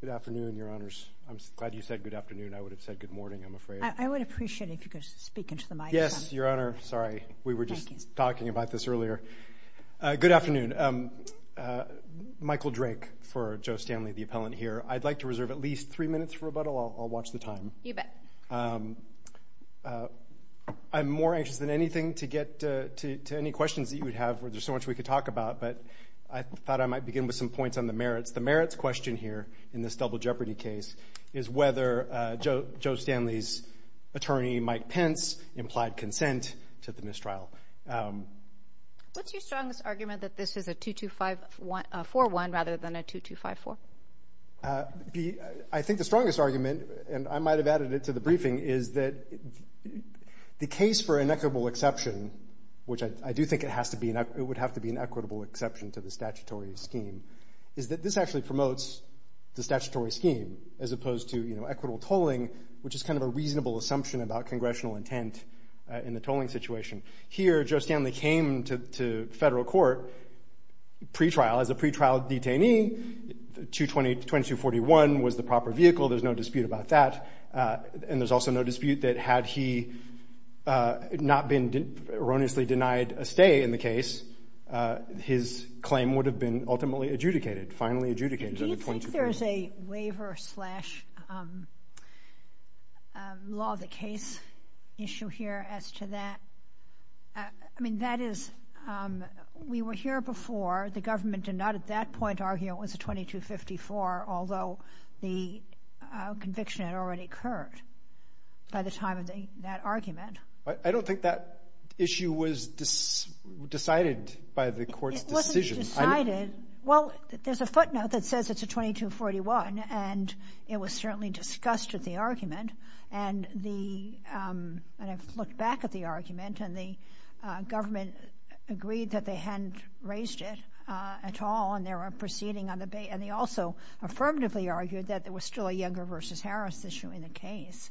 Good afternoon, your honors. I'm glad you said good afternoon. I would have said good morning, I'm afraid. I would appreciate it if you could speak into the microphone. Yes, your honor. Sorry, we were just talking about this earlier. Good afternoon. Michael Drake for Joe Stanley, the appellant here. I'd like to reserve at least three minutes for rebuttal. I'll watch the time. You bet. I'm more anxious than anything to get to any questions that you would have. There's so much we could talk about, but I thought I might begin with some points on the merits. The merits question here in this double jeopardy case is whether Joe Stanley's attorney, Mike Pence, implied consent to the mistrial. What's your strongest argument that this is a 2-2-5-4-1 rather than a 2-2-5-4? I think the strongest argument, and I might have added it to the briefing, is that the case for an equitable exception, which I do think it would have to be an equitable exception to the statutory scheme, is that this actually promotes the statutory scheme as opposed to equitable tolling, which is kind of a reasonable assumption about pretrial. As a pretrial detainee, 2241 was the proper vehicle. There's no dispute about that, and there's also no dispute that had he not been erroneously denied a stay in the case, his claim would have been ultimately adjudicated, finally adjudicated. Do you think there's a waiver slash law of the case issue here as to that? I mean, that is, we were here before, the government did not at that point argue it was a 2254, although the conviction had already occurred by the time of that argument. I don't think that issue was decided by the court's decision. It wasn't decided. Well, there's a footnote that says it's a 2241, and it was certainly discussed at the argument, and the, and I've looked back at the argument, and the government agreed that they hadn't raised it at all, and they were proceeding on the, and they also affirmatively argued that there was still a Younger v. Harris issue in the case,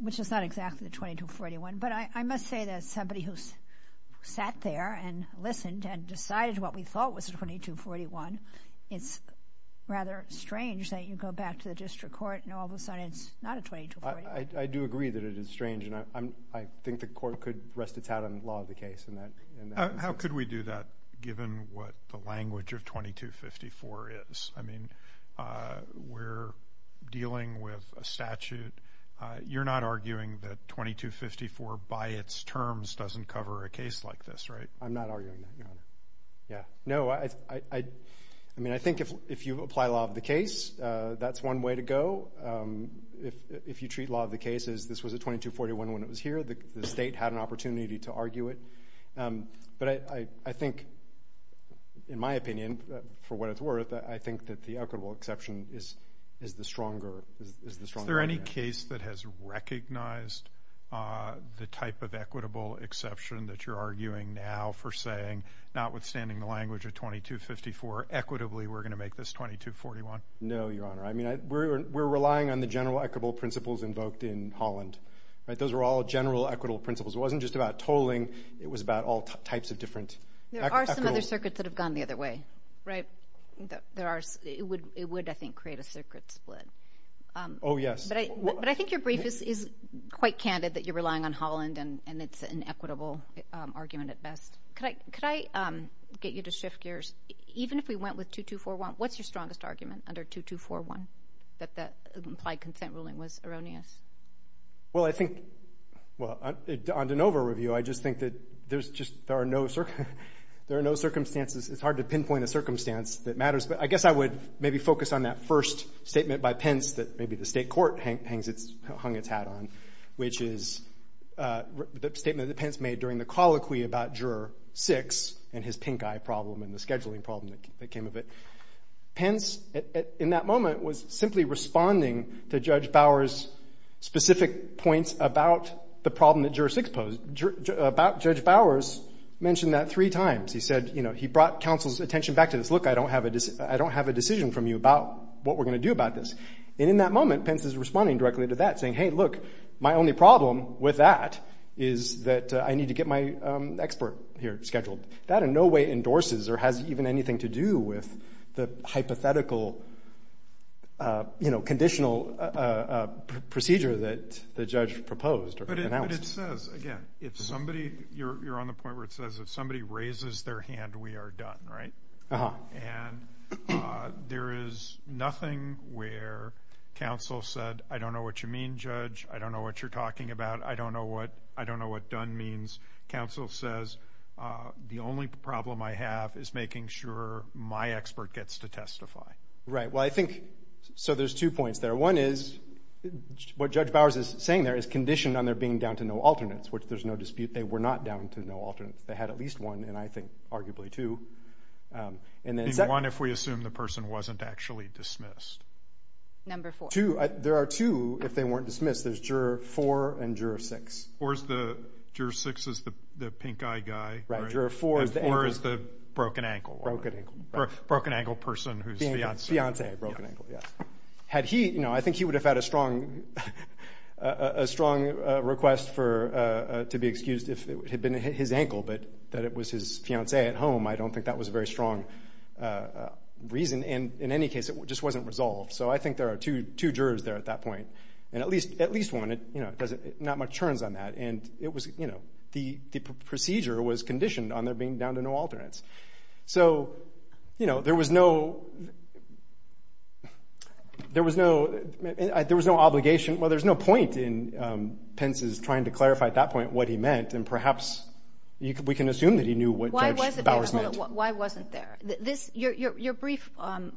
which is not exactly the 2241, but I must say that somebody who sat there and listened and decided what we thought was a 2241, it's rather strange that you go back to the district court, and all of a sudden it's not a 2241. I do agree that it is strange, and I'm, I think the court could rest its hat on the law of the case. How could we do that given what the language of 2254 is? I mean, we're dealing with a statute. You're not arguing that 2254 by its terms doesn't cover a case like this, right? I'm not arguing that, yeah. No, I, I mean, I think if, if you apply law of the case, that's one way to go. If, if you treat law of the case as this was a 2241 when it was here, the state had an opportunity to argue it, but I, I think, in my opinion, for what it's worth, I think that the equitable exception is, is the stronger, is the any case that has recognized the type of equitable exception that you're arguing now for saying, notwithstanding the language of 2254, equitably we're going to make this 2241? No, Your Honor. I mean, I, we're, we're relying on the general equitable principles invoked in Holland, right? Those were all general equitable principles. It wasn't just about tolling. It was about all types of different. There are some other circuits that have gone the other way, right? There are, it would, I think, create a circuit split. Oh, yes. But I, but I think your brief is, is quite candid that you're relying on Holland and, and it's an equitable argument at best. Could I, could I get you to shift gears? Even if we went with 2241, what's your strongest argument under 2241 that the implied consent ruling was erroneous? Well, I think, well, on, on de novo review, I just think that there's just, there are no, there are no circumstances. It's hard to pinpoint a circumstance that matters, but I guess I would maybe focus on that first statement by Pence that maybe the state court hangs its, hung its hat on, which is the statement that Pence made during the colloquy about Juror 6 and his pink eye problem and the scheduling problem that came of it. Pence, in that moment, was simply responding to Judge Bower's specific points about the problem that Juror 6 posed, about Judge Bower's, mentioned that three times. He said, you know, he brought counsel's attention back to this. Look, I don't have a, I don't have a decision from you about what we're going to do about this. And in that moment, Pence is responding directly to that, saying, hey, look, my only problem with that is that I need to get my expert here scheduled. That in no way endorses or has even anything to do with the hypothetical, you know, conditional procedure that the judge proposed or announced. But it says, again, if somebody, you're, you're on the point where it says if somebody raises their hand, we are done, right? Uh-huh. And there is nothing where counsel said, I don't know what you mean, Judge. I don't know what you're talking about. I don't know what, I don't know what done means. Counsel says, the only problem I have is making sure my expert gets to testify. Right. Well, I think, so there's two points there. One is what Judge Bower's is saying there is conditioned on there being down to no alternates, which there's no dispute. They were not down to no alternates. They had at least one, and I think arguably two. And then one, if we assume the person wasn't actually dismissed. Number four. Two, there are two, if they weren't dismissed. There's juror four and juror six. Or is the, juror six is the pink-eyed guy. Right. Juror four is the broken ankle. Broken ankle. Broken ankle person who's fiancé. Fiancé, broken ankle, yes. Had he, you know, I think he would have had a strong, a strong request for, to be excused if it had been his ankle, but that it was his fiancé at home, I don't think that was a very strong reason. And in any case, it just wasn't resolved. So I think there are two, two jurors there at that point. And at least, at least one, you know, not much turns on that. And it was, you know, the procedure was conditioned on there being down to no alternates. So, you know, there was no, there was no, there was no obligation. Well, there's no point in Pence's trying to clarify at that point what he meant, and perhaps we can assume that he knew what Judge Bowers meant. Why wasn't there? This, your brief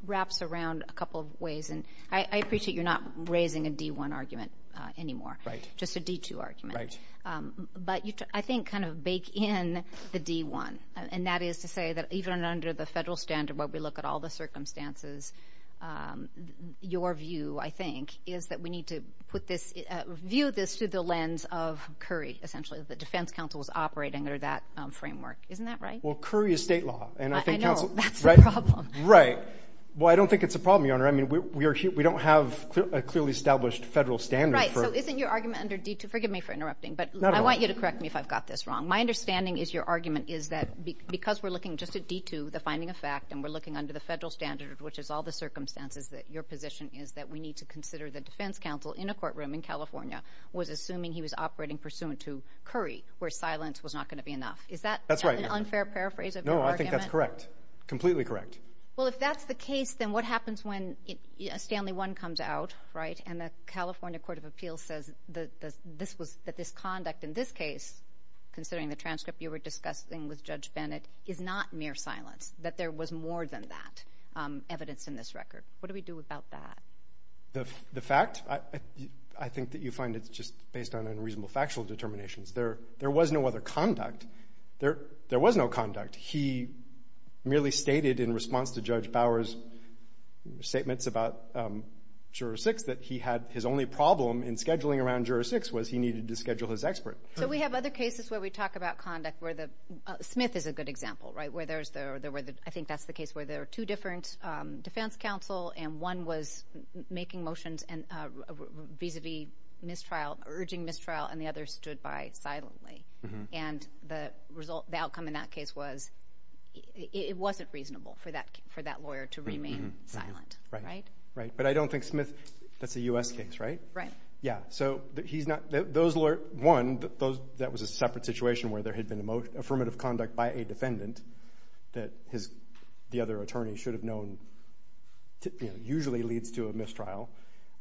wraps around a couple of ways, and I appreciate you're not raising a D1 argument anymore. Right. Just a D2 argument. Right. But you, I think, kind of bake in the D1. And that is to say that even under the federal standard where we look at all the circumstances, your view, I think, is that we need to put this, view this through the lens of essentially the defense counsel was operating under that framework. Isn't that right? Well, Curry is state law. And I think, right. Well, I don't think it's a problem, Your Honor. I mean, we are, we don't have a clearly established federal standard. Right. So isn't your argument under D2, forgive me for interrupting, but I want you to correct me if I've got this wrong. My understanding is your argument is that because we're looking just at D2, the finding of fact, and we're looking under the federal standard, which is all the circumstances that your position is that we need to consider the defense counsel in a courtroom in California was assuming he was pursuant to Curry, where silence was not going to be enough. Is that an unfair paraphrase? No, I think that's correct. Completely correct. Well, if that's the case, then what happens when Stanley one comes out, right? And the California court of appeals says that this was that this conduct in this case, considering the transcript you were discussing with Judge Bennett is not mere silence, that there was more than that evidence in this record. What do we do about that? The fact, I think that you find it's just based on unreasonable factual determinations. There was no other conduct. There was no conduct. He merely stated in response to Judge Bower's statements about juror six that he had his only problem in scheduling around juror six was he needed to schedule his expert. So we have other cases where we talk about conduct where the, Smith is a good example, right? Where there's the, I think that's the case where there are two different defense counsel and one was making motions and vis-a-vis mistrial urging mistrial and the other stood by silently. And the result, the outcome in that case was it wasn't reasonable for that, for that lawyer to remain silent, right? Right. But I don't think Smith, that's a U.S. case, right? Right. Yeah. So he's not, those lawyers, one, that was a separate situation where there had been affirmative conduct by a defendant that his, the other attorney should have known, you know, usually leads to a mistrial.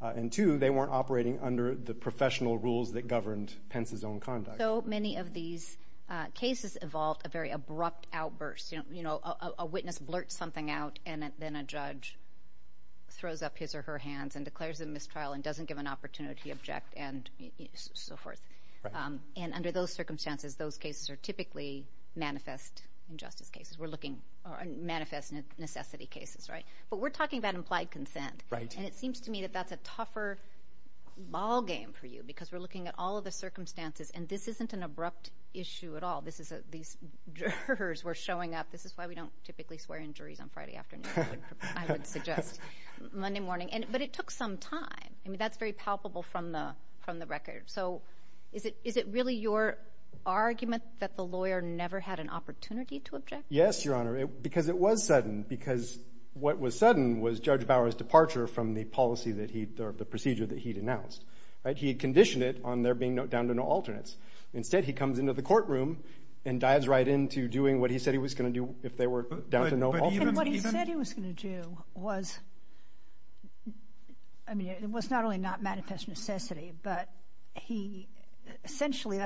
And two, they weren't operating under the professional rules that governed Pence's own conduct. So many of these cases evolved a very abrupt outburst. You know, a witness blurts something out and then a judge throws up his or her hands and declares a mistrial and doesn't give an opportunity to object and so forth. And under those circumstances, those cases are typically manifest injustice cases. We're looking, or manifest necessity cases, right? But we're talking about implied consent. Right. And it seems to me that that's a tougher ballgame for you because we're looking at all of the circumstances and this isn't an abrupt issue at all. This is a, these jurors were showing up. This is why we don't typically swear in juries on Friday afternoon, I would suggest, Monday morning. And, but it took some time. I mean, that's very palpable from the, from the record. So is it, is it really your argument that the lawyer never had an opportunity to object? Yes, Your Honor, because it was sudden because what was sudden was Judge Bauer's departure from the policy that he, the procedure that he'd announced, right? He had conditioned it on there being no, down to no alternates. Instead, he comes into the courtroom and dives right into doing what he said he was going to do if they were down to no alternates. And what he said he was going to do was, I mean, it was not only not manifest necessity, but he essentially,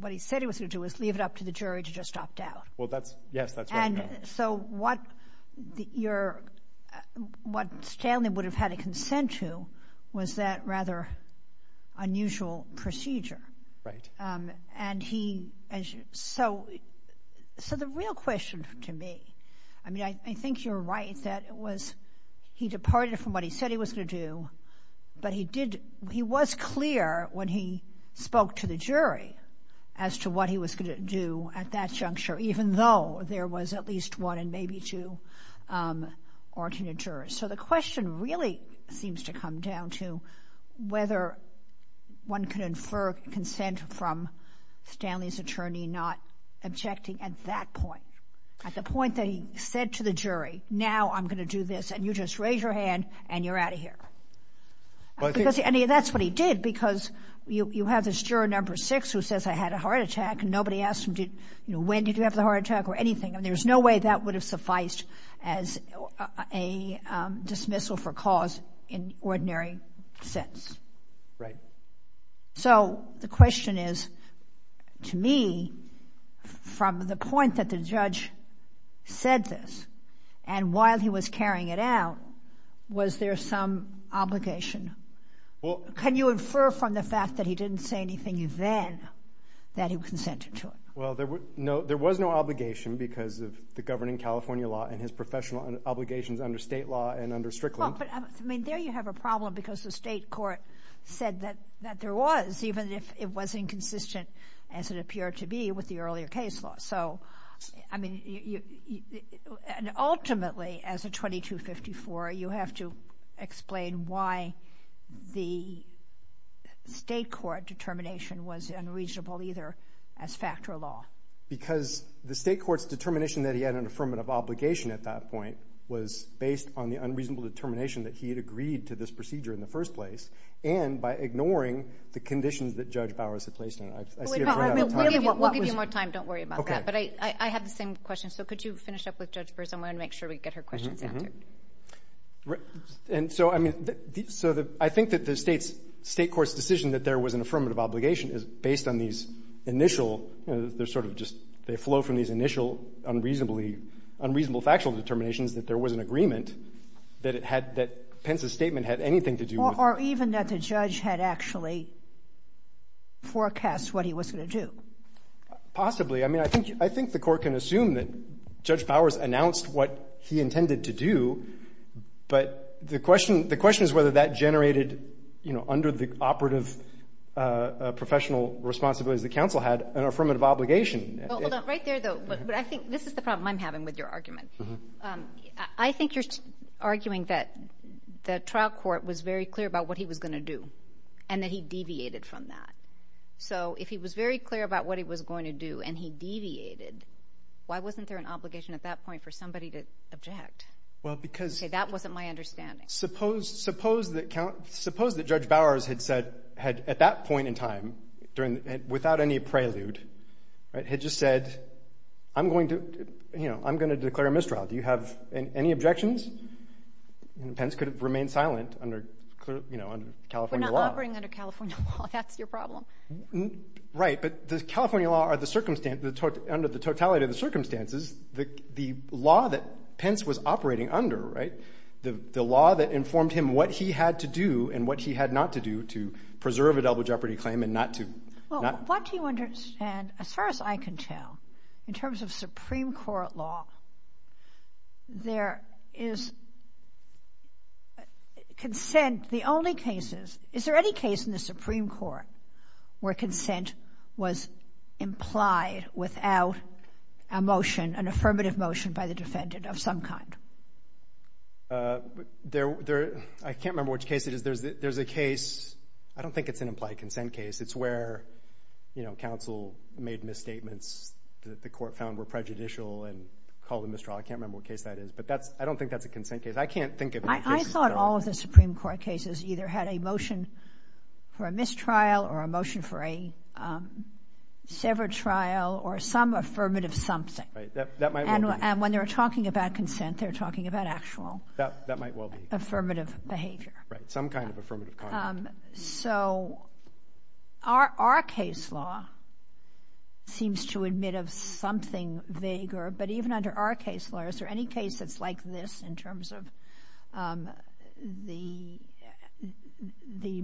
what he said he was going to do was leave it up to the jury to just opt out. Well, that's, yes, that's right. And so what the, your, what Stanley would have had a consent to was that rather unusual procedure. Right. And he, so, so the real question to me, I mean, I think you're right that it was, he departed from what he said he was going to do, but he did, he was clear when he spoke to the jury as to what he was going to do at that juncture, even though there was at least one and maybe two alternate jurors. So the question really seems to come down to whether one can infer consent from Stanley's attorney, not objecting at that point, at the point that he said to the jury, now I'm going to do this and you just raise your hand and you're out of here. And that's what he did because you have this juror number six who says I had a heart attack and nobody asked him, you know, when did you have the heart attack or anything? And there's no way that would have sufficed as a dismissal for cause in ordinary sense. Right. So the question is to me, from the point that the judge said this and while he was carrying it out, was there some obligation? Well, can you infer from the fact that he didn't say anything then that he consented to Well, there was no obligation because of the governing California law and his professional obligations under state law and under Strickland. I mean, there you have a problem because the state court said that there was, even if it was inconsistent as it appeared to be with the earlier case law. So, I mean, ultimately as a 2254, you have to explain why the state court determination was unreasonable either as fact or law. Because the state court's determination that he had an affirmative obligation at that point was based on the unreasonable determination that he had agreed to this procedure in the first place and by ignoring the conditions that Judge Bowers had placed in it. We'll give you more time. Don't worry about that. But I have the same question. So could you finish up with Judge Burson? I want to make sure we get her questions answered. Right. And so, I mean, so I think that the state's, state court's decision that there was an affirmative obligation is based on these initial, you know, they're sort of just, they flow from these initial unreasonably, unreasonable factual determinations that there was an agreement that it had, that Pence's statement had anything to do with Or even that the judge had actually forecast what he was going to do. Possibly. I mean, I think, I think the court can assume that he intended to do. But the question, the question is whether that generated, you know, under the operative professional responsibilities that counsel had an affirmative obligation. Right there, though. But I think this is the problem I'm having with your argument. I think you're arguing that the trial court was very clear about what he was going to do and that he deviated from that. So if he was very clear about what he was going to do and he object. Well, because. Okay, that wasn't my understanding. Suppose, suppose that, suppose that Judge Bowers had said, had at that point in time, during, without any prelude, right, had just said, I'm going to, you know, I'm going to declare a mistrial. Do you have any objections? And Pence could have remained silent under, you know, under California law. We're not operating under California law. That's your problem. Right. But the California law are the circumstance, under the totality of circumstances, the law that Pence was operating under, right, the law that informed him what he had to do and what he had not to do to preserve a double jeopardy claim and not to. Well, what do you understand, as far as I can tell, in terms of Supreme Court law, there is consent. The only cases, is there any case in the Supreme Court where consent was implied without a motion, an affirmative motion by the defendant of some kind? There, there, I can't remember which case it is. There's, there's a case, I don't think it's an implied consent case. It's where, you know, counsel made misstatements that the court found were prejudicial and called a mistrial. I can't remember what case that is, but that's, I don't think that's a consent case. I can't think of any motion for a mistrial or a motion for a severed trial or some affirmative something. Right, that might well be. And when they're talking about consent, they're talking about actual. That, that might well be. Affirmative behavior. Right, some kind of affirmative conduct. So, our, our case law seems to admit of something vaguer, but even under our case law, is there any case that's like this in terms of the, the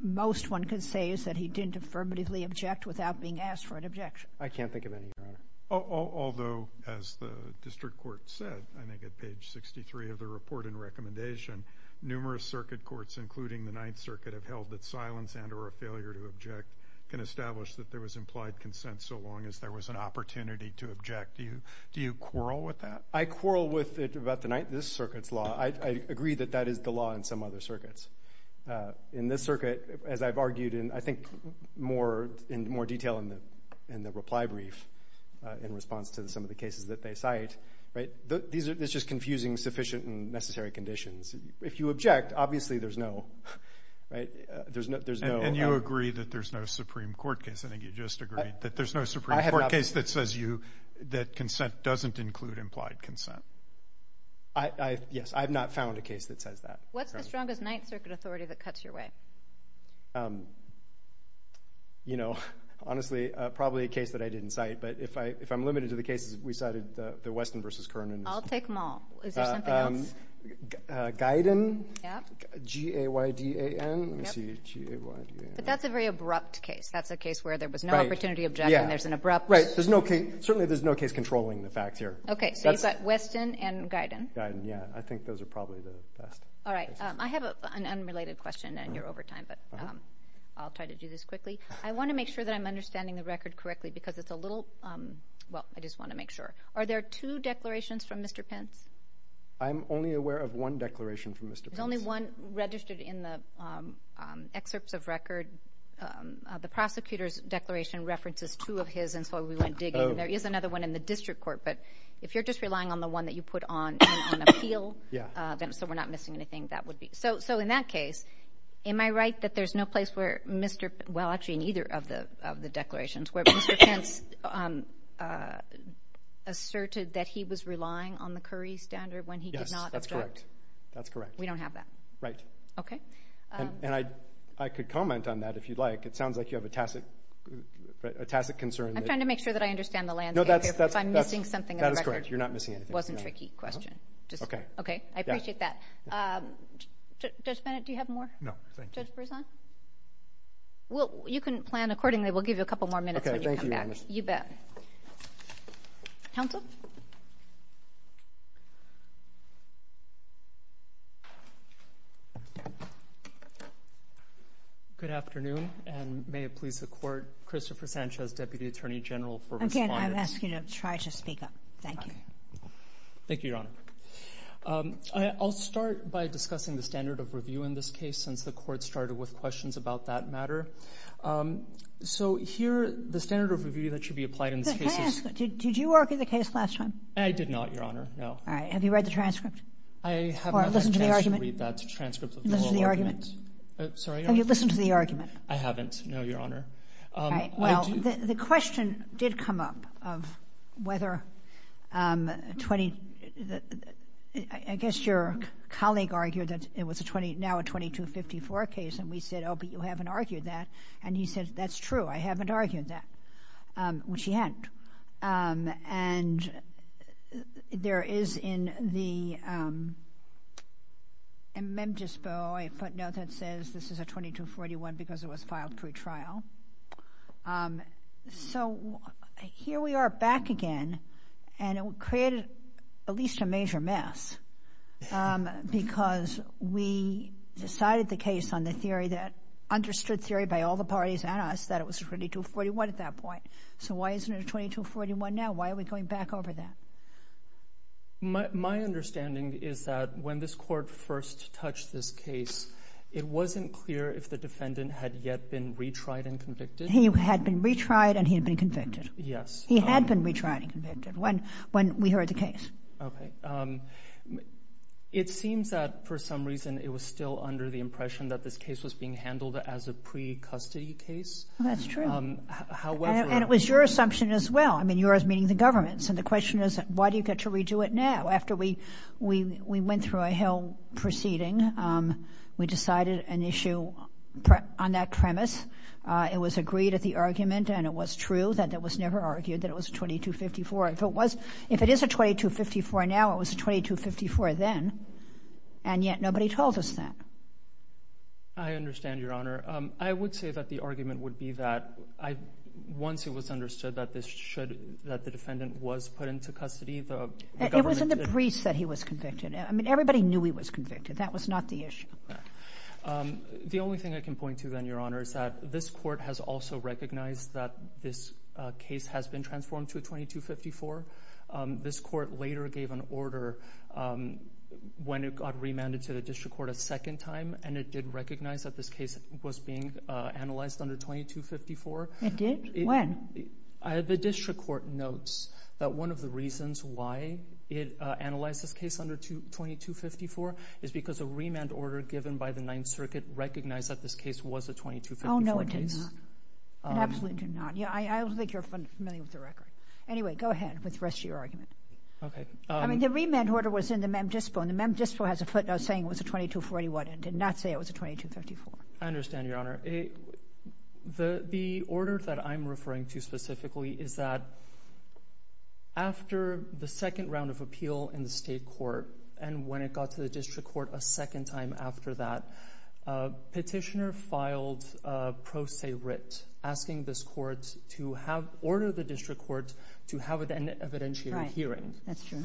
most one can say is that he didn't affirmatively object without being asked for an objection? I can't think of any, Your Honor. Although, as the district court said, I think at page 63 of the report and recommendation, numerous circuit courts, including the Ninth Circuit, have held that silence and or a failure to object can establish that there was implied consent so long as there was an opportunity to object. I would quarrel with it about the Ninth, this circuit's law. I, I agree that that is the law in some other circuits. In this circuit, as I've argued in, I think, more, in more detail in the, in the reply brief in response to some of the cases that they cite, right, these are, this is confusing sufficient and necessary conditions. If you object, obviously there's no, right, there's no, there's no. And you agree that there's no Supreme Court case. I think you just agreed that there's no Supreme Court case that says you, that consent doesn't include implied consent. I, I, yes, I've not found a case that says that. What's the strongest Ninth Circuit authority that cuts your way? You know, honestly, probably a case that I didn't cite, but if I, if I'm limited to the cases we cited, the Weston versus Kern. I'll take them all. Is there something else? Guyden. Yeah. G-A-Y-D-A-N. Let me see. G-A-Y-D-A-N. But that's a very abrupt case. That's a case where there was no opportunity to object and there's an abrupt. Right. There's no case, certainly there's no case controlling the facts here. Okay. So you've got Weston and Guyden. Guyden, yeah. I think those are probably the best. All right. I have an unrelated question and you're over time, but I'll try to do this quickly. I want to make sure that I'm understanding the record correctly because it's a little, well, I just want to make sure. Are there two declarations from Mr. Pence? I'm only aware of one declaration from Mr. Pence. There's only one registered in the excerpts of record. The prosecutor's declaration references two of those. There is another one in the district court, but if you're just relying on the one that you put on appeal, so we're not missing anything, that would be. So in that case, am I right that there's no place where Mr. Pence, well, actually in either of the declarations, where Mr. Pence asserted that he was relying on the Curry standard when he did not object? That's correct. We don't have that. Right. Okay. And I could comment on that if you'd like. It kind of makes sure that I understand the land. If I'm missing something, that is correct. You're not missing. It wasn't tricky question. Okay. Okay. I appreciate that. Judge Bennett, do you have more? No. Well, you can plan accordingly. We'll give you a couple more minutes. You bet. Counsel? Good afternoon, and may it please the Court, Christopher Sanchez, Deputy Attorney General for Respondents. Again, I'm asking you to try to speak up. Thank you. Thank you, Your Honor. I'll start by discussing the standard of review in this case, since the Court started with the 2254 case. Did you argue the case last time? I did not, Your Honor. No. All right. Have you read the transcript? I have not had a chance to read that transcript. Have you listened to the argument? I haven't, no, Your Honor. Well, the question did come up of whether, I guess your colleague argued that it was now a 2254 case, and we said, oh, but you haven't argued that. And he said, that's true. I haven't argued that, which he hadn't. And there is in the amendment, a footnote that says this is a 2241 because it was filed pre-trial. So here we are back again, and it created at least a major mess because we decided the case that understood theory by all the parties and us that it was a 2241 at that point. So why isn't it a 2241 now? Why are we going back over that? My understanding is that when this Court first touched this case, it wasn't clear if the defendant had yet been retried and convicted. He had been retried and he had been convicted. Yes. He had been retried and convicted when we heard the case. Okay. It seems that for some that this case was being handled as a pre-custody case. That's true. However... And it was your assumption as well. I mean, yours meaning the government's. And the question is, why do you get to redo it now? After we went through a whole proceeding, we decided an issue on that premise. It was agreed at the argument and it was true that it was never argued that it was 2254. If it is a 2254 now, it was 2254 then, and yet nobody told us that. I understand, Your Honor. I would say that the argument would be that once it was understood that the defendant was put into custody, the government... It wasn't the priest that he was convicted. I mean, everybody knew he was convicted. That was not the issue. The only thing I can point to then, Your Honor, is that this Court has also recognized that this case has been transformed to a 2254. This Court later gave an order when it got remanded to the District Court a second time and it did recognize that this case was being analyzed under 2254. It did? When? The District Court notes that one of the reasons why it analyzed this case under 2254 is because a remand order given by the Ninth Circuit recognized that this case was a 2254 case. Oh, no, it did not. It absolutely did not. Yeah, I don't think you're familiar with the record. Anyway, go ahead with the rest of your argument. Okay. I mean, the remand order was in the Mem Dispo and the Mem Dispo has a footnote saying it was a 2241. It did not say it was a 2254. I understand, Your Honor. The order that I'm referring to specifically is that after the second round of appeal in the State Court and when it got to the District Court a second time after that, a petitioner filed a pro se writ asking this Court to order the District Court to have an evidentiary hearing. That's true.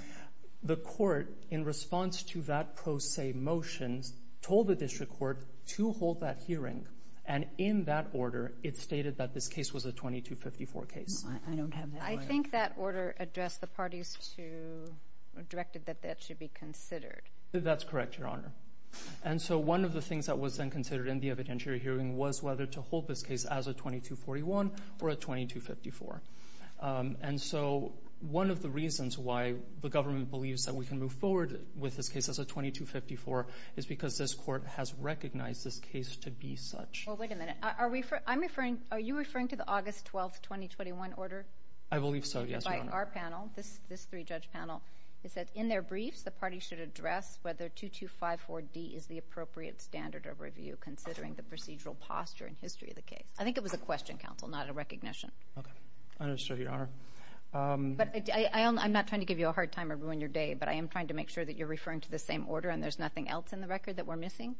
The Court in response to that pro se motion told the District Court to hold that hearing and in that order it stated that this case was a 2254 case. I don't have that. I think that order addressed the parties to, directed that that should be considered. That's correct, Your Honor. And so one of the things that was then considered in the evidentiary hearing was whether to hold this case as a 2241 or a 2254. And so one of the reasons why the government believes that we can move forward with this case as a 2254 is because this Court has recognized this case to be such. Well, wait a minute. Are we, I'm referring, are you referring to the August 12th, 2021 order? I believe so, yes, Your Honor. By our panel, this three-judge panel, is that in their briefs the parties should address whether 2254D is the appropriate standard of I think it was a question, counsel, not a recognition. Okay, I understand, Your Honor. But I'm not trying to give you a hard time or ruin your day, but I am trying to make sure that you're referring to the same order and there's nothing else in the record that we're missing?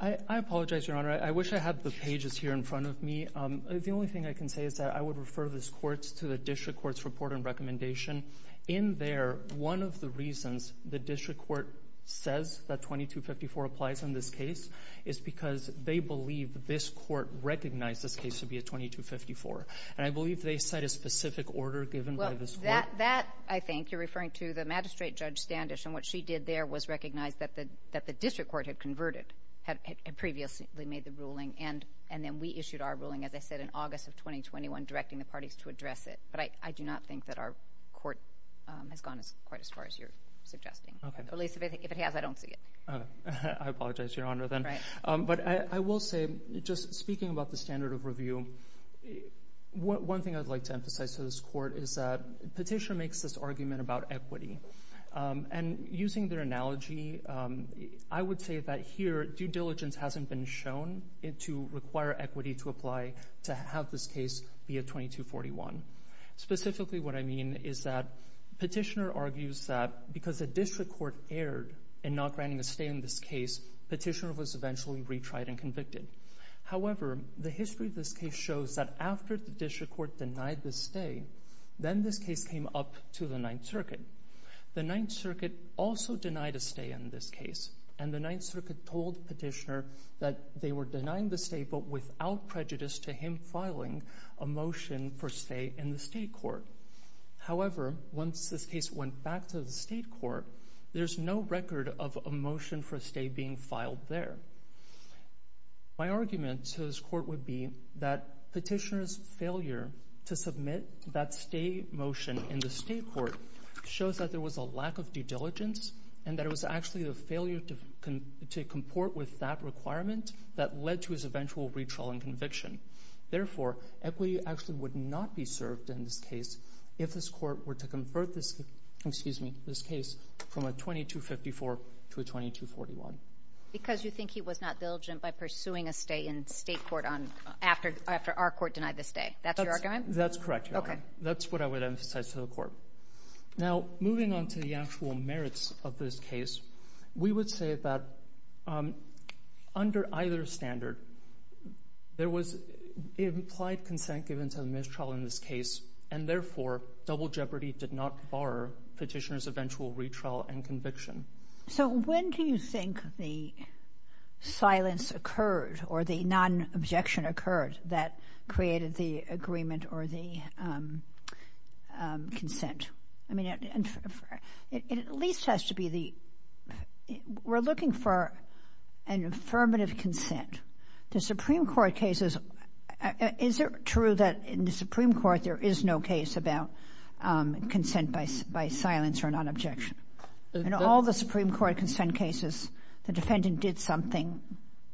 I apologize, Your Honor. I wish I had the pages here in front of me. The only thing I can say is that I would refer this Court to the District Court's report and recommendation. In there, one of the reasons the District Court says that 2254 applies in this case is because they believe this Court recognized this case to be a 2254, and I believe they cite a specific order given by this Court. Well, that, I think, you're referring to the Magistrate Judge Standish, and what she did there was recognize that the District Court had converted, had previously made the ruling, and then we issued our ruling, as I said, in August of 2021 directing the parties to address it. But I do not think that our Court has gone quite as far as you're suggesting. At least if it has, I don't see it. I apologize, Your Honor, then. But I will say, just speaking about the standard of review, one thing I'd like to emphasize to this Court is that Petitioner makes this argument about equity, and using their analogy, I would say that here, due diligence hasn't been shown to require equity to apply to have this case be a 2241. Specifically, what I mean is that Petitioner argues that because the District Court erred in not granting a stay in this case, Petitioner was eventually retried and convicted. However, the history of this case shows that after the District Court denied the stay, then this case came up to the Ninth Circuit. The Ninth Circuit also denied a stay in this case, and the Ninth Circuit told Petitioner that they were denying the stay but without prejudice to him filing a motion for stay in the State Court. However, once this case went back to the State Court, there's no record of a motion for a stay being filed there. My argument to this Court would be that Petitioner's failure to submit that stay motion in the State Court shows that there was a lack of due diligence and that it was actually the failure to comport with that requirement that led to his eventual retrial and conviction. Therefore, equity actually would not be served in this case if this Court were to convert this case from a 2254 to a 2241. Because you think he was not diligent by pursuing a stay in the State Court after our Court denied the stay. That's your argument? That's correct. That's what I would emphasize to the Court. Now, moving on to the actual merits of this case, we would say that under either standard, there was implied consent given to the mistrial in this case, and therefore, double jeopardy did not bar Petitioner's eventual retrial and conviction. So, when do you think the silence occurred or the non-objection occurred that created the agreement or the consent? The Supreme Court cases, is it true that in the Supreme Court there is no case about consent by silence or non-objection? In all the Supreme Court consent cases, the defendant did something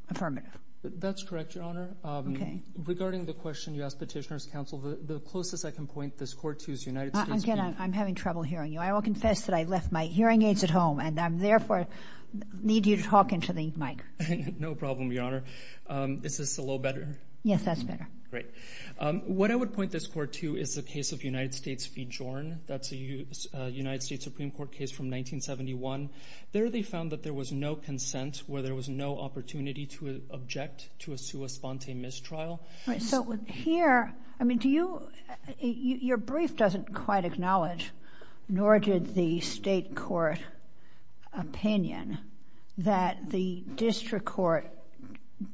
affirmative. That's correct, Your Honor. Okay. Regarding the question you asked Petitioner's counsel, the closest I can point this Court to is United States. Again, I'm having trouble hearing you. I will confess that I left my hearing at home, and therefore, I need you to talk into the mic. No problem, Your Honor. Is this a little better? Yes, that's better. Great. What I would point this Court to is the case of United States v. Jordan. That's a United States Supreme Court case from 1971. There, they found that there was no consent where there was no opportunity to object to a sua sponte mistrial. So, here, I mean, do you—your brief doesn't quite acknowledge, nor did the State Court opinion, that the District Court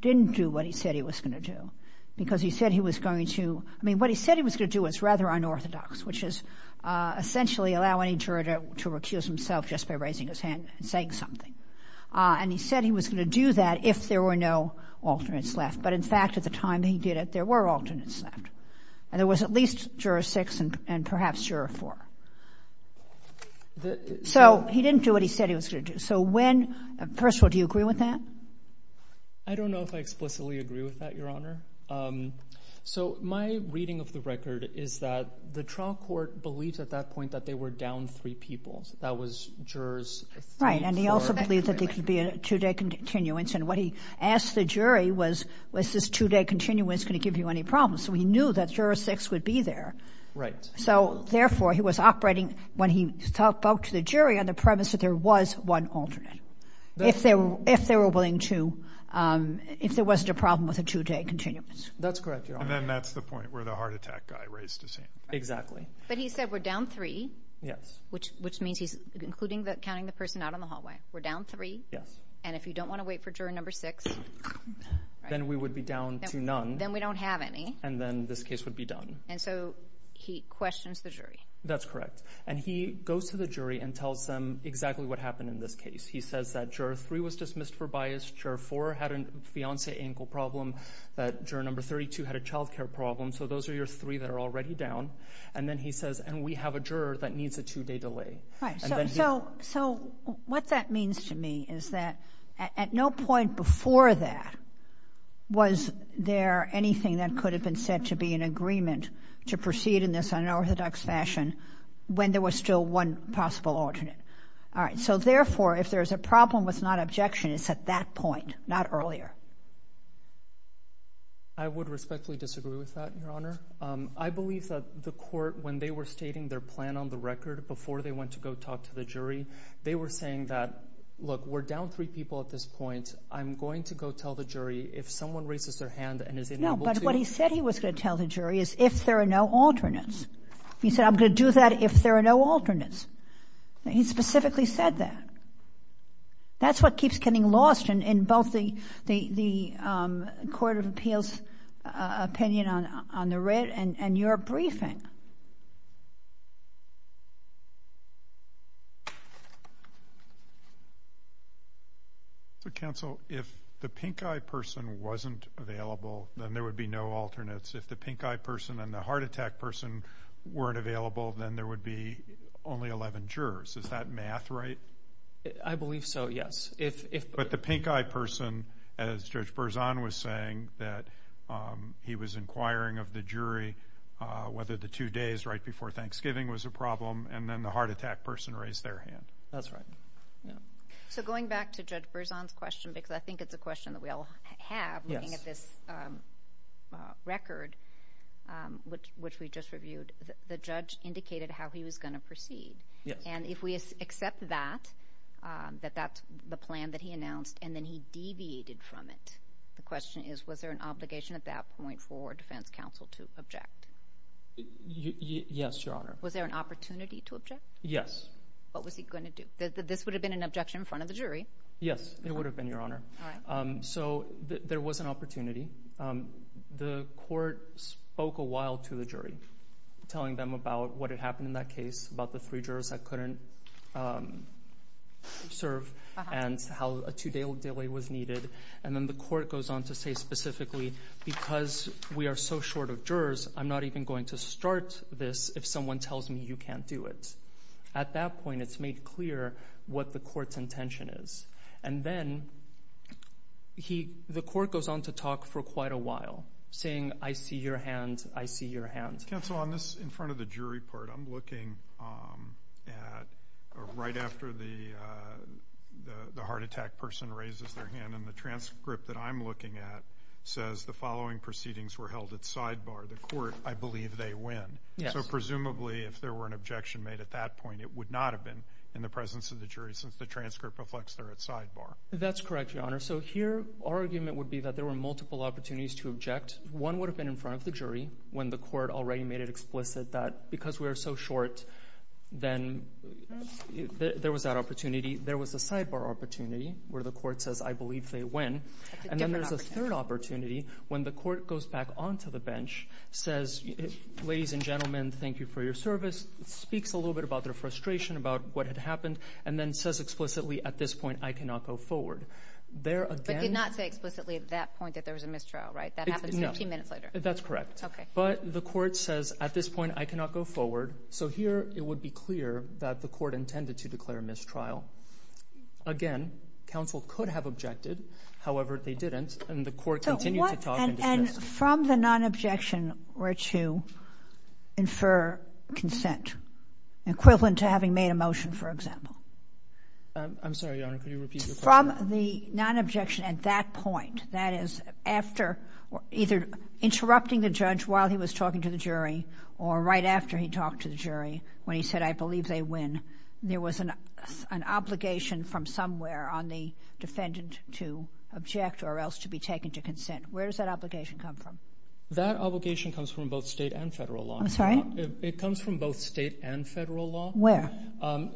didn't do what he said he was going to do because he said he was going to—I mean, what he said he was going to do is rather unorthodox, which is essentially allow any juror to recuse himself just by raising his hand and saying something. And he said he was going to do that if there were no alternates left. But, in fact, at the time he did it, there were alternates left. And there was at least Juror 6 and perhaps Juror 4. So, he didn't do what he said he was going to do. So, when—first of all, do you agree with that? I don't know if I explicitly agree with that, Your Honor. So, my reading of the record is that the trial court believed at that point that they were down three people. That was jurors 3, 4— Right, and he also believed that there could be a two-day continuance. And what he asked the jury was, was this two-day continuance going give you any problems? So, he knew that Juror 6 would be there. Right. So, therefore, he was operating when he spoke to the jury on the premise that there was one alternate, if they were willing to—if there wasn't a problem with a two-day continuance. That's correct, Your Honor. And then that's the point where the heart attack guy raised his hand. Exactly. But he said we're down three. Yes. Which means he's including the—counting the person out in the hallway. We're down three. Yes. And if you don't want to wait for Juror Number 6— Then we would be down to none. Then we don't have any. And then this case would be done. And so, he questions the jury. That's correct. And he goes to the jury and tells them exactly what happened in this case. He says that Juror 3 was dismissed for bias. Juror 4 had a fiancé ankle problem. That Juror Number 32 had a child care problem. So, those are your three that are already down. And then he says, and we have a juror that needs a two-day delay. Right. So, what that means to me is that at no point before that was there anything that could have been said to be in agreement to proceed in this unorthodox fashion when there was still one possible alternate. All right. So, therefore, if there's a problem with non-objection, it's at that point, not earlier. I would respectfully disagree with that, Your Honor. I believe that the court, when they were stating their plan on the record before they went to go talk to the jury, they were saying that, look, we're down three people at this point. I'm going to go tell the jury if someone raises their hand and is unable to. No, but what he said he was going to tell the jury is if there are no alternates. He said, I'm going to do that if there are no alternates. He specifically said that. That's what keeps getting lost in both the Court of Appeals opinion on the red and your briefing. So, counsel, if the pinkeye person wasn't available, then there would be no alternates. If the pinkeye person and the heart attack person weren't available, then there would be only 11 jurors. Is that math right? I believe so, yes. But the pinkeye person, as Judge Berzon was saying, that he was inquiring of the jury whether the two days right before Thanksgiving was a problem, and then the heart attack person raised their hand. That's right. So going back to Judge Berzon's question, because I think it's a question that we all have looking at this record, which we just reviewed, the judge indicated how he was going to proceed. And if we accept that, that that's the plan that he announced, and then he deviated from it. The question is, was there an obligation at that point for defense counsel to object? Yes, Your Honor. Was there an opportunity to object? Yes. What was he going to do? This would have been an objection in front of the jury. Yes, it would have been, Your Honor. So there was an opportunity. The court spoke a while to the jury, telling them about what had happened in that case, about the three jurors that couldn't serve, and how a two-day delay was needed. And then the court goes on to say specifically, because we are so short of jurors, I'm not even going to start this if someone tells me you can't do it. At that point, it's made clear what the court's intention is. And then the court goes on to talk for quite a while, saying, I see your hand, I see your hand. Counsel, on this in front of the jury part, I'm looking at right after the heart attack person raises their hand, and the transcript that I'm looking at says the following proceedings were held at sidebar. The court, I believe they win. So presumably, if there were an objection made at that point, it would not have been in the presence of the jury, since the transcript reflects they're at sidebar. That's correct, Your Honor. So here, our argument would be that there were multiple opportunities to object. One would have been in front of the jury, when the court already made it explicit that because we are so short, then there was that opportunity. There was a sidebar opportunity, where the court says, I believe they win. And then there's a third opportunity, when the court goes back on to the bench, says, ladies and gentlemen, thank you for your service, speaks a little bit about their frustration about what had happened, and then says explicitly, at this point, I cannot go forward. There again— But did not say explicitly at that point that there was a mistrial, right? That happens 15 But the court says, at this point, I cannot go forward. So here, it would be clear that the court intended to declare a mistrial. Again, counsel could have objected. However, they didn't, and the court continued to talk and discuss— So what—and from the non-objection were to infer consent, equivalent to having made a motion, for example? I'm sorry, Your Honor, could you repeat your question? From the non-objection at that point, that is, after either interrupting the judge while he was talking to the jury, or right after he talked to the jury, when he said, I believe they win, there was an obligation from somewhere on the defendant to object or else to be taken to consent. Where does that obligation come from? That obligation comes from both state and federal law. I'm sorry? It comes from both state and federal law. Where?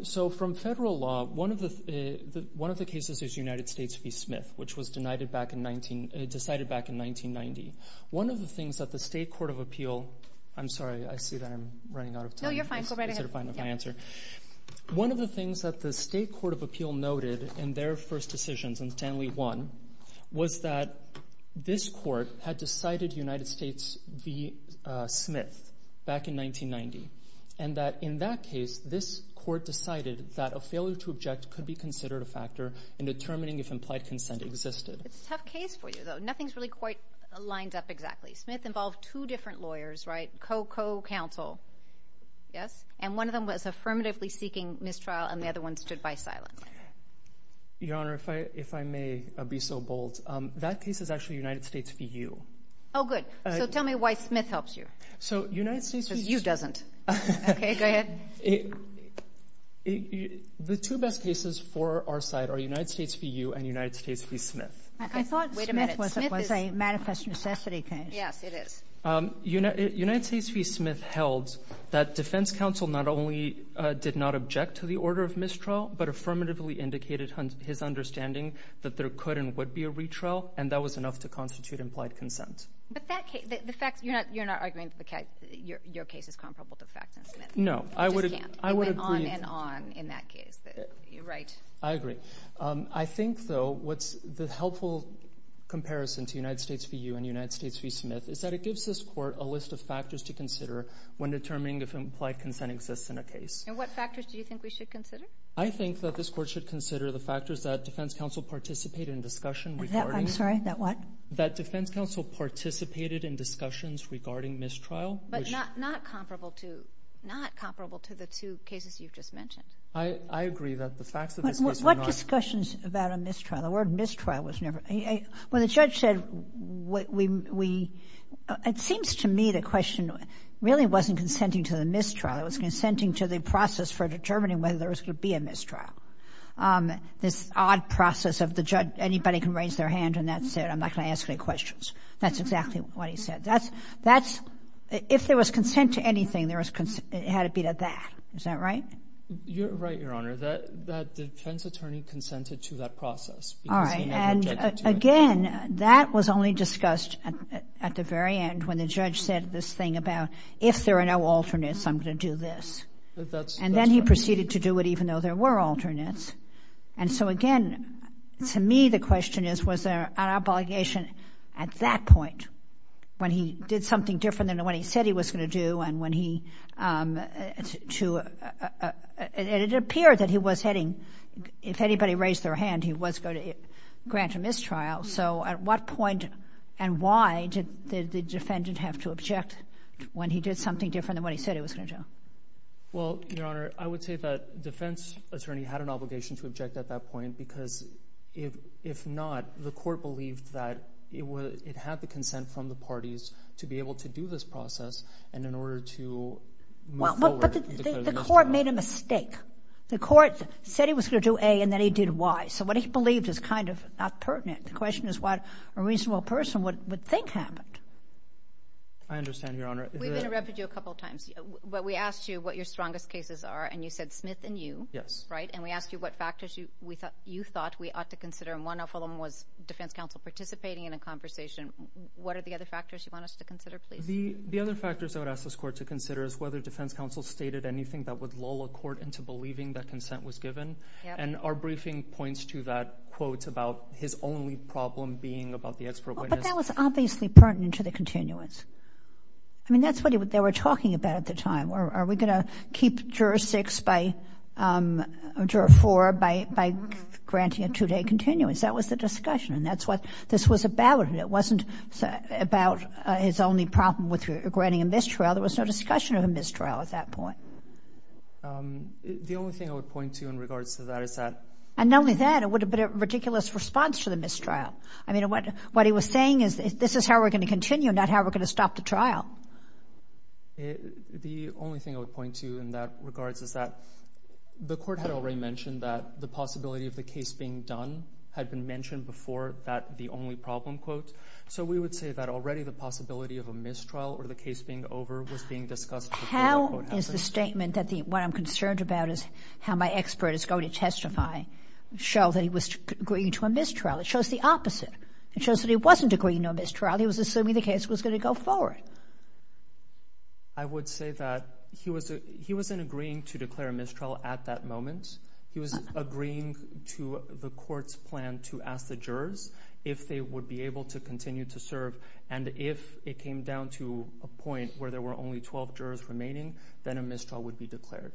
So from federal law, one of the cases is United States v. Smith, which was denied decided back in 1990. One of the things that the State Court of Appeal—I'm sorry, I see that I'm running out of time. No, you're fine. Go right ahead. Consider finding my answer. One of the things that the State Court of Appeal noted in their first decisions in Stanley 1 was that this court had decided United States v. Smith back in 1990, and that in that case, this court decided that a failure to object could be considered a factor in determining if implied consent existed. It's a tough case for you, though. Nothing's really quite lined up exactly. Smith involved two different lawyers, right? Co-co-counsel. Yes? And one of them was affirmatively seeking mistrial, and the other one stood by silently. Your Honor, if I may be so bold, that case is actually United States v. U. Oh, good. So tell me why Smith helps you. So United States v. U. U doesn't. Okay, go ahead. It—the two best cases for our side are United States v. U and United States v. Smith. I thought Smith was a manifest necessity case. Yes, it is. United States v. Smith held that defense counsel not only did not object to the order of mistrial, but affirmatively indicated his understanding that there could and would be a retrial, and that was enough to constitute implied consent. But that case—the facts—you're not arguing that your case is comparable to the facts in Smith? No, I would— You just can't. It went on and on in that case. You're right. I agree. I think, though, what's the helpful comparison to United States v. U and United States v. Smith is that it gives this Court a list of factors to consider when determining if implied consent exists in a case. And what factors do you think we should consider? I think that this Court should consider the factors that defense counsel participated in discussion regarding— I'm sorry, that what? That defense counsel participated in discussions regarding mistrial, which— Not comparable to the two cases you've just mentioned. I agree that the facts of this case were not— What discussions about a mistrial? The word mistrial was never—when the judge said what we—it seems to me the question really wasn't consenting to the mistrial. It was consenting to the process for determining whether there was going to be a mistrial, this odd process of the judge—anybody can raise their hand and that's it. I'm not going to ask any questions. That's exactly what he said. That's—if there was consent to anything, there was—it had to be to that. Is that right? You're right, Your Honor, that the defense attorney consented to that process because he never objected to it. Again, that was only discussed at the very end when the judge said this thing about if there are no alternates, I'm going to do this. And then he proceeded to do it even though there were alternates. And so again, to me the question is was there an obligation at that point when he did something different than what he said he was going to do and when he to—it appeared that he was heading—if anybody raised their hand, he was going to grant a mistrial. So at what point and why did the defendant have to object when he did something different than what he said he was going to do? Well, Your Honor, I would say that defense attorney had an obligation to object at that because if not, the court believed that it had the consent from the parties to be able to do this process and in order to move forward— But the court made a mistake. The court said he was going to do A and then he did Y. So what he believed is kind of not pertinent. The question is what a reasonable person would think happened. I understand, Your Honor. We've been a refugee a couple of times. We asked you what your strongest cases are and you said Smith and You. Yes. And we asked you what factors you thought we ought to consider and one of them was defense counsel participating in a conversation. What are the other factors you want us to consider, please? The other factors I would ask this court to consider is whether defense counsel stated anything that would lull a court into believing that consent was given and our briefing points to that quote about his only problem being about the expert witness— But that was obviously pertinent to the continuance. I mean, that's what they were talking about at the time. Are we going to keep Juror 6 by—Juror 4 by granting a two-day continuance? That was the discussion and that's what this was about. It wasn't about his only problem with granting a mistrial. There was no discussion of a mistrial at that point. The only thing I would point to in regards to that is that— And not only that, it would have been a ridiculous response to the mistrial. I mean, what he was saying is this is how we're going to continue, not how we're going to stop the trial. The only thing I would point to in that regards is that the court had already mentioned that the possibility of the case being done had been mentioned before that the only problem quote, so we would say that already the possibility of a mistrial or the case being over was being discussed before the quote happened. How is the statement that the—what I'm concerned about is how my expert is going to testify show that he was agreeing to a mistrial? It shows the opposite. It shows that he wasn't agreeing to a mistrial. He was assuming the case was going to go forward. I would say that he wasn't agreeing to declare a mistrial at that moment. He was agreeing to the court's plan to ask the jurors if they would be able to continue to serve and if it came down to a point where there were only 12 jurors remaining, then a mistrial would be declared.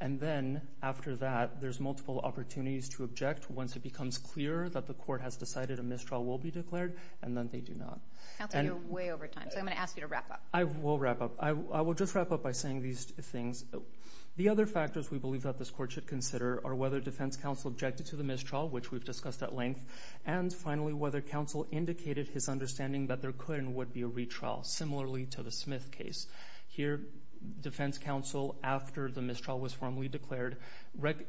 And then after that, there's multiple opportunities to object once it becomes clear that the court has decided a mistrial will be declared and then they do not. Counsel, you're way over time, so I'm going to ask you to wrap up. I will wrap up. I will just wrap up by saying these things. The other factors we believe that this court should consider are whether defense counsel objected to the mistrial, which we've discussed at length, and finally, whether counsel indicated his understanding that there could and would be a retrial, similarly to the Smith case. Here, defense counsel, after the mistrial was formally declared,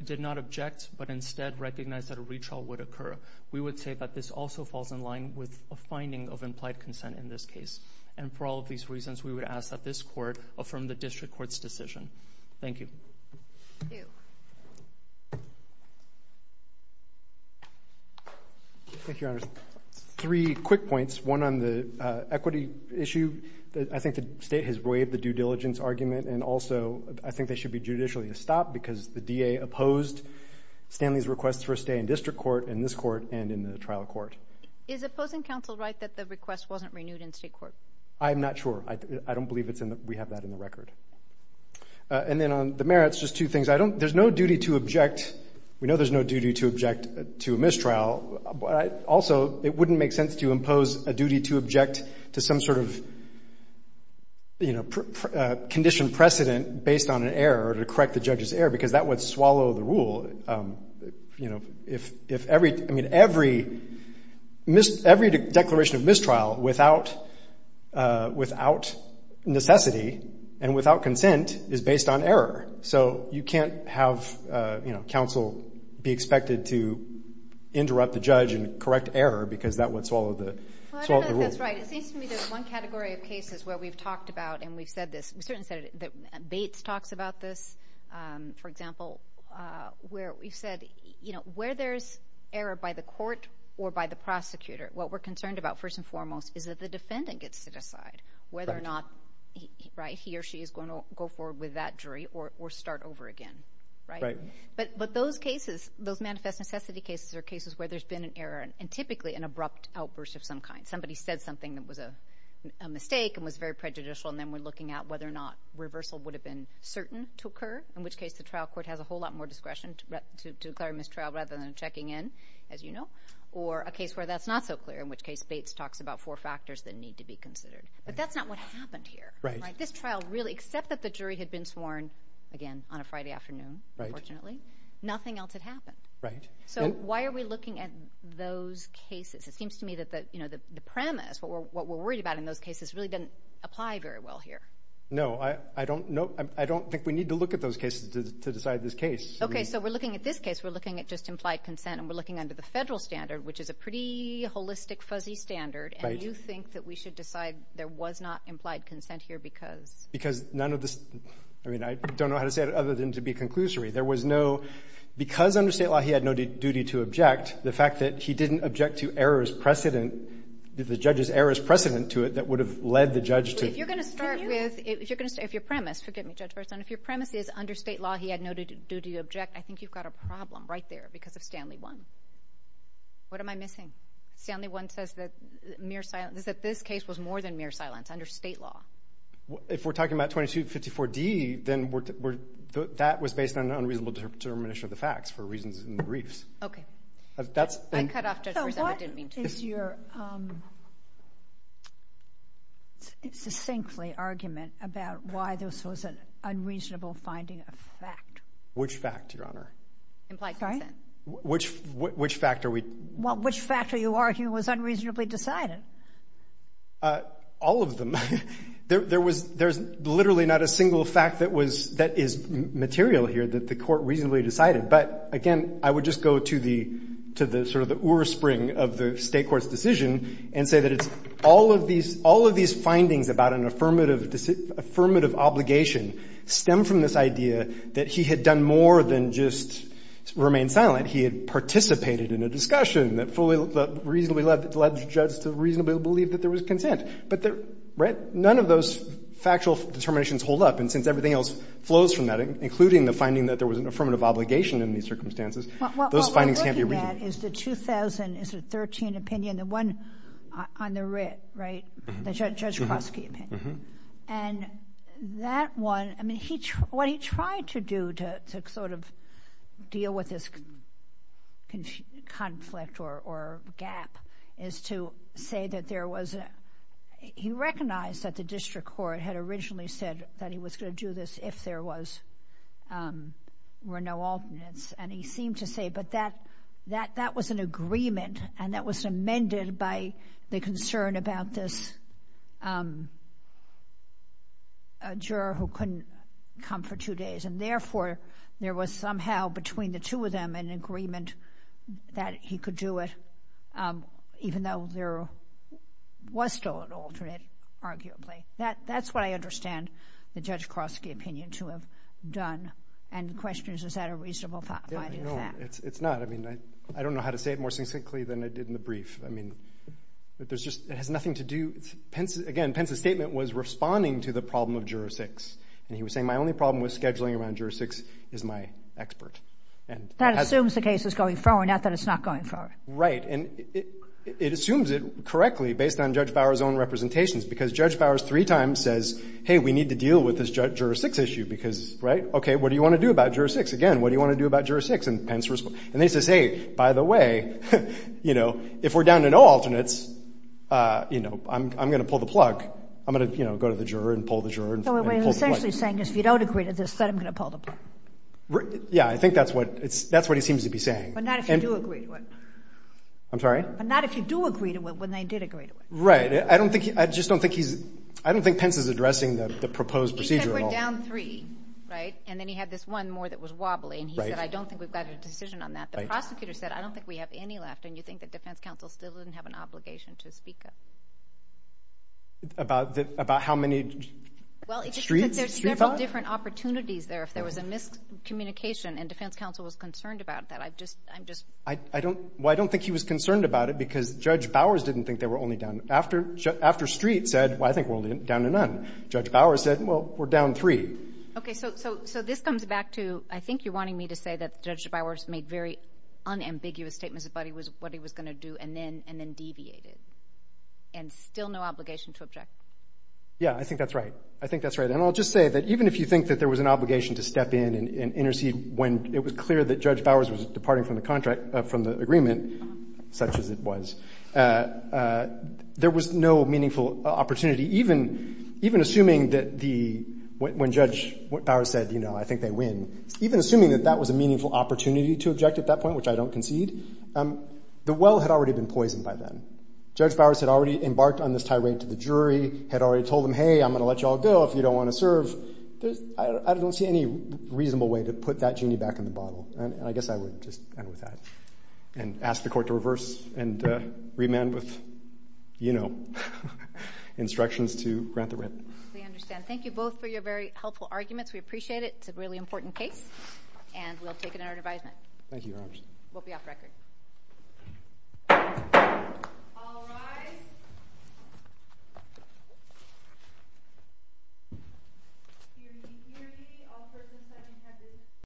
did not object but instead recognized that a retrial would occur. We would say that this also falls in line with a finding of implied consent in this case. And for all of these reasons, we would ask that this court affirm the district court's decision. Thank you. Thank you. Thank you, Your Honor. Three quick points. One on the equity issue. I think the state has waived the due diligence argument and also I think they should be judicially stopped because the DA opposed Stanley's request for a stay in district court in this court and in the trial court. Is opposing counsel right that the request wasn't renewed in state court? I'm not sure. I don't believe we have that in the record. And then on the merits, just two things. There's no duty to object. We know there's no duty to object to a mistrial, but also it wouldn't make sense to impose a duty to object to some sort of, you know, conditioned precedent based on an error or to correct the judge's error because that would swallow the rule. You know, if every, I mean, every declaration of mistrial without necessity and without consent is based on error. So you can't have, you know, counsel be expected to interrupt the judge and correct error because that would swallow the rule. Well, I don't know if that's right. It seems to me there's one category of cases where we've talked about and we've said this, we certainly said it, that Bates talks about this, for example, where we've said, you know, where there's error by the court or by the prosecutor, what we're concerned about first and foremost is that the defendant gets to decide whether or not he or she is going to go forward with that jury or start over again, right? But those cases, those manifest necessity cases are cases where there's been an error and typically an abrupt outburst of some kind. Somebody said something that was a mistake and was very prejudicial and then we're looking at whether or not reversal would have been certain to occur, in which case the trial court has a whole lot more discretion to declare a mistrial rather than checking in, as you know, or a case where that's not so clear, in which case Bates talks about four factors that need to be considered. But that's not what happened here, right? This trial really, except that the jury had been sworn, again, on a Friday afternoon, unfortunately, nothing else had happened. Right. So why are we looking at those cases? It seems to me that, you know, the premise, what we're worried about in those cases really apply very well here. No, I don't think we need to look at those cases to decide this case. Okay. So we're looking at this case. We're looking at just implied consent and we're looking under the federal standard, which is a pretty holistic, fuzzy standard. And you think that we should decide there was not implied consent here because? Because none of this, I mean, I don't know how to say it other than to be conclusory. There was no, because under state law he had no duty to object, the fact that he didn't object to errors precedent, the judge's errors precedent to it that would have led the judge to. If you're going to start with, if you're going to say, if your premise, forgive me, Judge Burson, if your premise is under state law he had no duty to object, I think you've got a problem right there because of Stanley 1. What am I missing? Stanley 1 says that mere silence, that this case was more than mere silence under state law. If we're talking about 2254D, then that was based on an unreasonable determination of the facts for reasons in the briefs. Okay. That's. I cut off Judge Burson, I didn't mean to. So what is your succinctly argument about why this was an unreasonable finding of fact? Which fact, Your Honor? Implied consent. Which fact are we? Which fact are you arguing was unreasonably decided? All of them. There was, there's literally not a single fact that was, that is material here that the court reasonably decided. But again, I would just go to the, to the sort of the oarspring of the state court's decision and say that it's all of these, all of these findings about an affirmative obligation stem from this idea that he had done more than just remain silent. He had participated in a discussion that fully reasonably led the judge to reasonably believe that there was consent. But none of those factual determinations hold up. And since everything else flows from that, including the finding that there was an obligation in these circumstances, those findings can't be reasonable. Well, what we're looking at is the 2013 opinion, the one on the writ, right? The Judge Klosky opinion. And that one, I mean, he, what he tried to do to sort of deal with this conflict or gap is to say that there was a, he recognized that the district court had originally said that he was going to do this if there was, were no alternates. And he seemed to say, but that, that, that was an agreement and that was amended by the concern about this, a juror who couldn't come for two days. And therefore, there was somehow between the two of them an agreement that he could do That, that's what I understand the Judge Klosky opinion to have done. And the question is, is that a reasonable finding? No, it's, it's not. I mean, I don't know how to say it more succinctly than I did in the brief. I mean, there's just, it has nothing to do. Again, Pence's statement was responding to the problem of jurisdicts. And he was saying, my only problem with scheduling around jurisdicts is my expert. And that assumes the case is going forward, not that it's not going forward. Right. And it assumes it correctly based on Judge Bauer's own representations, because Judge Bauer's three times says, hey, we need to deal with this jurisdicts issue because, right. Okay. What do you want to do about jurisdicts? Again, what do you want to do about jurisdicts? And Pence was, and they used to say, by the way, you know, if we're down to no alternates, you know, I'm, I'm going to pull the plug. I'm going to, you know, go to the juror and pull the juror. So what he's essentially saying is if you don't agree to this, then I'm going to pull the plug. Yeah. I think that's what it's, that's what he seems to be saying. But not if you do agree to it. I'm sorry? But not if you do agree to it when they did agree to it. Right. I don't think, I just don't think he's, I don't think Pence is addressing the proposed procedure. He said we're down three, right? And then he had this one more that was wobbly. And he said, I don't think we've got a decision on that. The prosecutor said, I don't think we have any left. And you think that defense counsel still doesn't have an obligation to speak up? About the, about how many streets? There's several different opportunities there. If there was a miscommunication and defense counsel was concerned about that. I've just, I'm just. I don't, well, I don't think he was concerned about it because Judge Bauer's didn't think they were only down after, after Street said, well, I think we're down to none. Judge Bauer said, well, we're down three. Okay. So, so, so this comes back to, I think you're wanting me to say that Judge Bauer's made very unambiguous statements about what he was going to do and then, and then deviated. And still no obligation to object. Yeah, I think that's right. I think that's right. And I'll just say that even if you think that there was an obligation to step in and intercede when it was clear that Judge Bauer's was departing from the contract, from the agreement, such as it was, there was no meaningful opportunity, even, even assuming that the, when Judge Bauer said, you know, I think they win, even assuming that that was a meaningful opportunity to object at that point, which I don't concede, the well had already been poisoned by then. Judge Bauer's had already embarked on this tirade to the jury, had already told them, hey, I'm going to let you all go if you don't want to serve. I don't see any reasonable way to put that genie back in the bottle. And I guess I would just end with that and ask the court to reverse and remand with, you know, instructions to grant the writ. We understand. Thank you both for your very helpful arguments. We appreciate it. It's a really important case and we'll take it in our advisement. Thank you, Your Honor. We'll be off record. All rise.